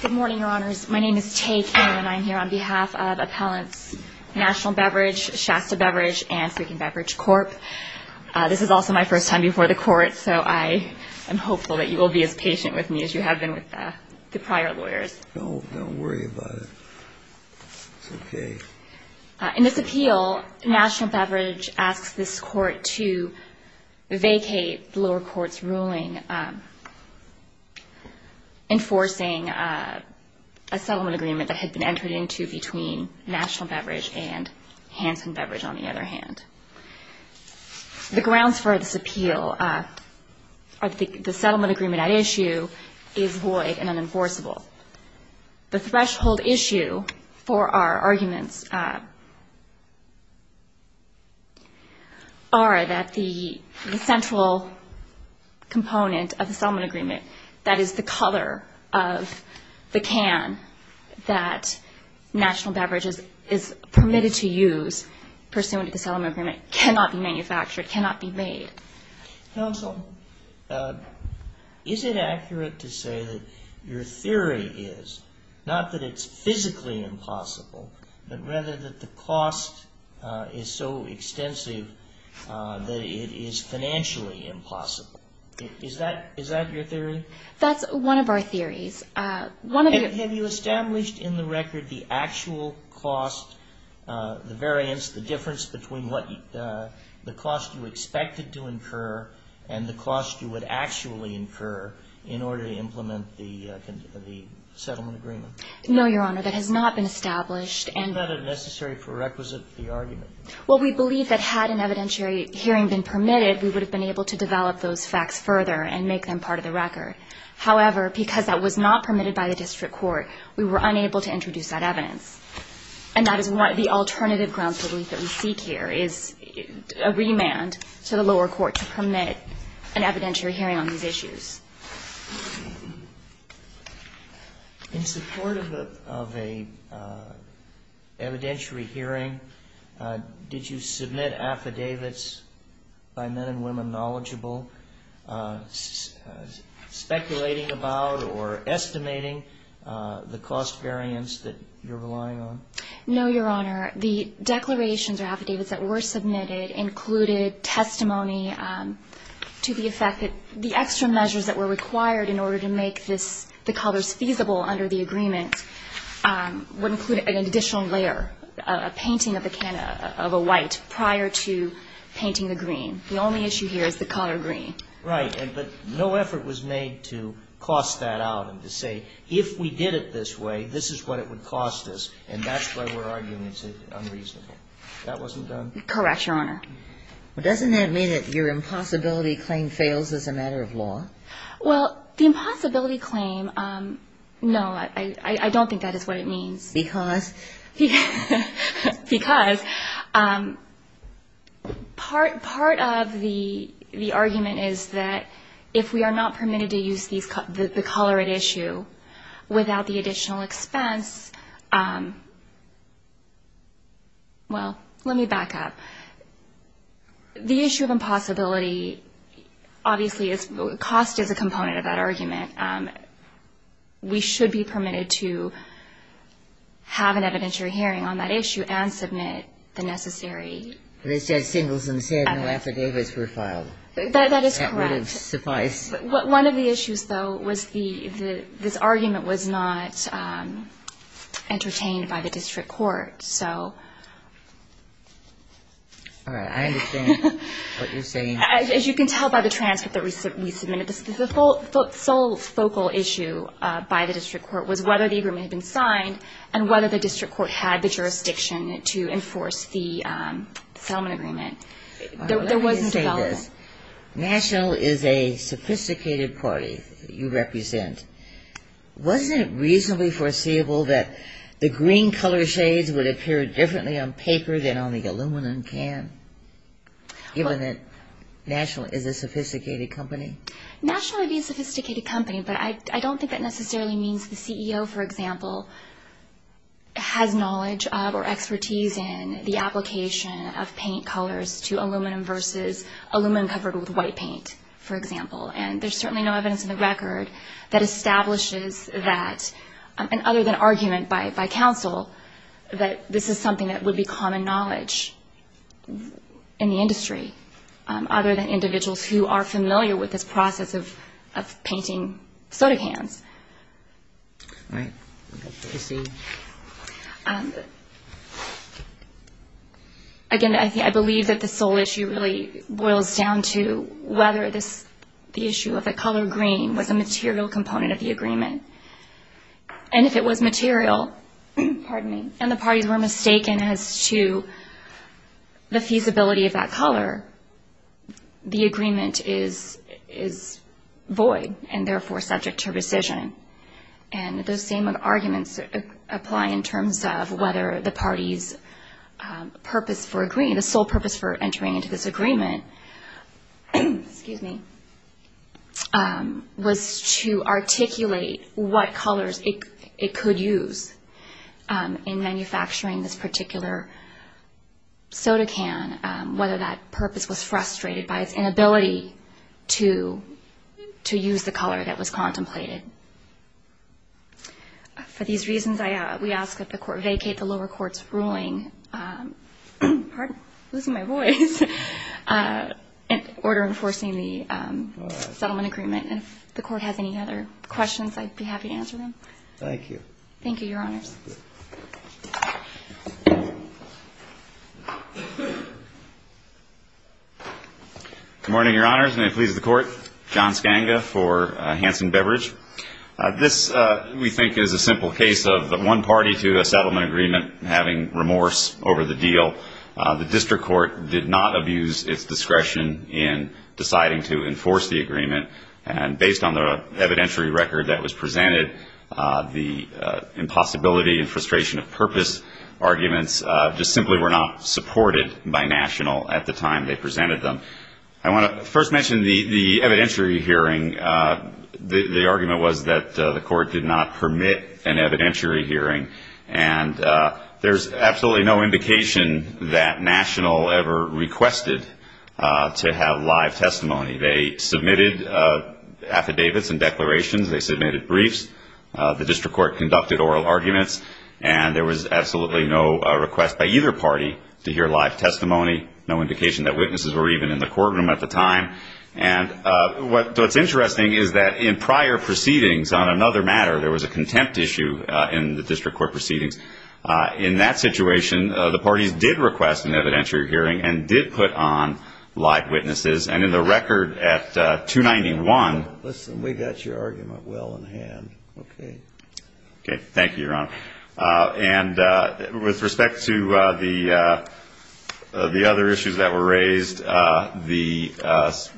Good morning, Your Honors. My name is Taye King, and I'm here on behalf of Appellants National Beverage, Shasta Beverage, and Sweetened Beverage Corp. This is also my first time before the Court, so I am hopeful that you will be as patient with me as you have been with the prior lawyers. No, don't worry about it. It's okay. In this appeal, National Beverage asks this Court to vacate the lower court's ruling enforcing a settlement agreement that had been entered into between National Beverage and Hansen Beverage, on the other hand. The grounds for this appeal are that the settlement agreement at issue is void and unenforceable. The threshold issue for our arguments are that the central component of the settlement agreement, that is, the color of the can that National Beverage is permitted to use pursuant to the settlement agreement, cannot be manufactured, cannot be made. Counsel, is it accurate to say that your theory is not that it's physically impossible, but rather that the cost is so extensive that it is financially impossible? Is that your theory? That's one of our theories. And have you established in the record the actual cost, the variance, the difference between what the cost you expected to incur and the cost you would actually incur in order to implement the settlement agreement? No, Your Honor. That has not been established. Isn't that a necessary prerequisite for the argument? Well, we believe that had an evidentiary hearing been permitted, we would have been able to develop those facts further and make them part of the record. However, because that was not permitted by the district court, we were unable to introduce that evidence. And that is why the alternative grounds that we seek here is a remand to the lower court to permit an evidentiary hearing on these issues. In support of a evidentiary hearing, did you submit affidavits by men and women knowledgeable, speculating about or estimating the cost variance that you're relying on? No, Your Honor. The declarations or affidavits that were submitted included testimony to the effect that the extra measures that were required in order to make this, the colors feasible under the agreement, would include an additional layer, a painting of a white prior to painting the green. The only issue here is the color green. Right. But no effort was made to cost that out and to say, if we did it this way, this is what it would cost us, and that's why we're arguing it's unreasonable. That wasn't done? Correct, Your Honor. Well, doesn't that mean that your impossibility claim fails as a matter of law? Well, the impossibility claim, no, I don't think that is what it means. Because? Because part of the argument is that if we are not permitted to use the color at issue without the additional expense, well, let me back up. The issue of impossibility, obviously, cost is a component of that argument. We should be permitted to have an evidentiary hearing on that issue and submit the necessary. But it said singles and said no affidavits were filed. That is correct. That would have sufficed. One of the issues, though, was this argument was not entertained by the district court. All right. I understand what you're saying. As you can tell by the transcript that we submitted, the sole focal issue by the district court was whether the agreement had been signed and whether the district court had the jurisdiction to enforce the settlement agreement. There was development. Yes. National is a sophisticated party you represent. Wasn't it reasonably foreseeable that the green color shades would appear differently on paper than on the aluminum can, given that National is a sophisticated company? National would be a sophisticated company, but I don't think that necessarily means the CEO, for example, has knowledge or expertise in the application of paint colors to aluminum versus aluminum covered with white paint, for example. And there's certainly no evidence in the record that establishes that, and other than argument by counsel that this is something that would be common knowledge in the industry, other than individuals who are familiar with this process of painting soda cans. All right. I see. Again, I believe that the sole issue really boils down to whether the issue of the color green was a material component of the agreement. And if it was material, and the parties were mistaken as to the feasibility of that color, the agreement is void and, therefore, subject to rescission. And those same arguments apply in terms of whether the party's purpose for agreeing, the sole purpose for entering into this agreement was to articulate what colors it could use in manufacturing this particular soda can, whether that purpose was frustrated by its inability to use the color that was contemplated. For these reasons, we ask that the court vacate the lower court's ruling, pardon losing my voice, in order enforcing the settlement agreement. And if the court has any other questions, I'd be happy to answer them. Thank you. Thank you, Your Honors. Good morning, Your Honors. May it please the Court. John Skanga for Hansen Beverage. This, we think, is a simple case of the one party to a settlement agreement having remorse over the deal. The district court did not abuse its discretion in deciding to enforce the agreement, and based on the evidentiary record that was presented, the impossibility and frustration of purpose arguments just simply were not supported by National at the time they presented them. I want to first mention the evidentiary hearing. The argument was that the court did not permit an evidentiary hearing, and there's absolutely no indication that National ever requested to have live testimony. They submitted affidavits and declarations. They submitted briefs. The district court conducted oral arguments, and there was absolutely no request by either party to hear live testimony, no indication that witnesses were even in the courtroom at the time. And what's interesting is that in prior proceedings on another matter, there was a contempt issue in the district court proceedings. In that situation, the parties did request an evidentiary hearing and did put on live witnesses. And in the record at 291. Listen, we got your argument well in hand. Okay. Okay. Thank you, Your Honor. And with respect to the other issues that were raised, the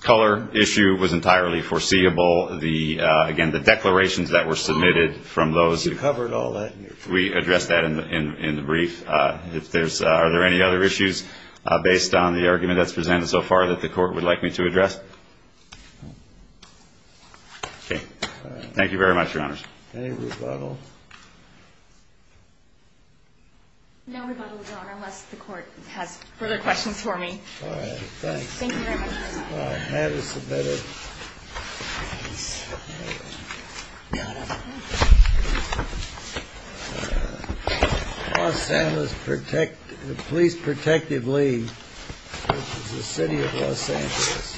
color issue was entirely foreseeable. Again, the declarations that were submitted from those. You covered all that. We addressed that in the brief. Are there any other issues based on the argument that's presented so far that the court would like me to address? Okay. Thank you very much, Your Honors. Any rebuttals? No rebuttals, Your Honor, unless the court has further questions for me. All right. Thanks. Thank you very much. Have us a better. Los Alamos Police Protective League. City of Los Angeles. Okay.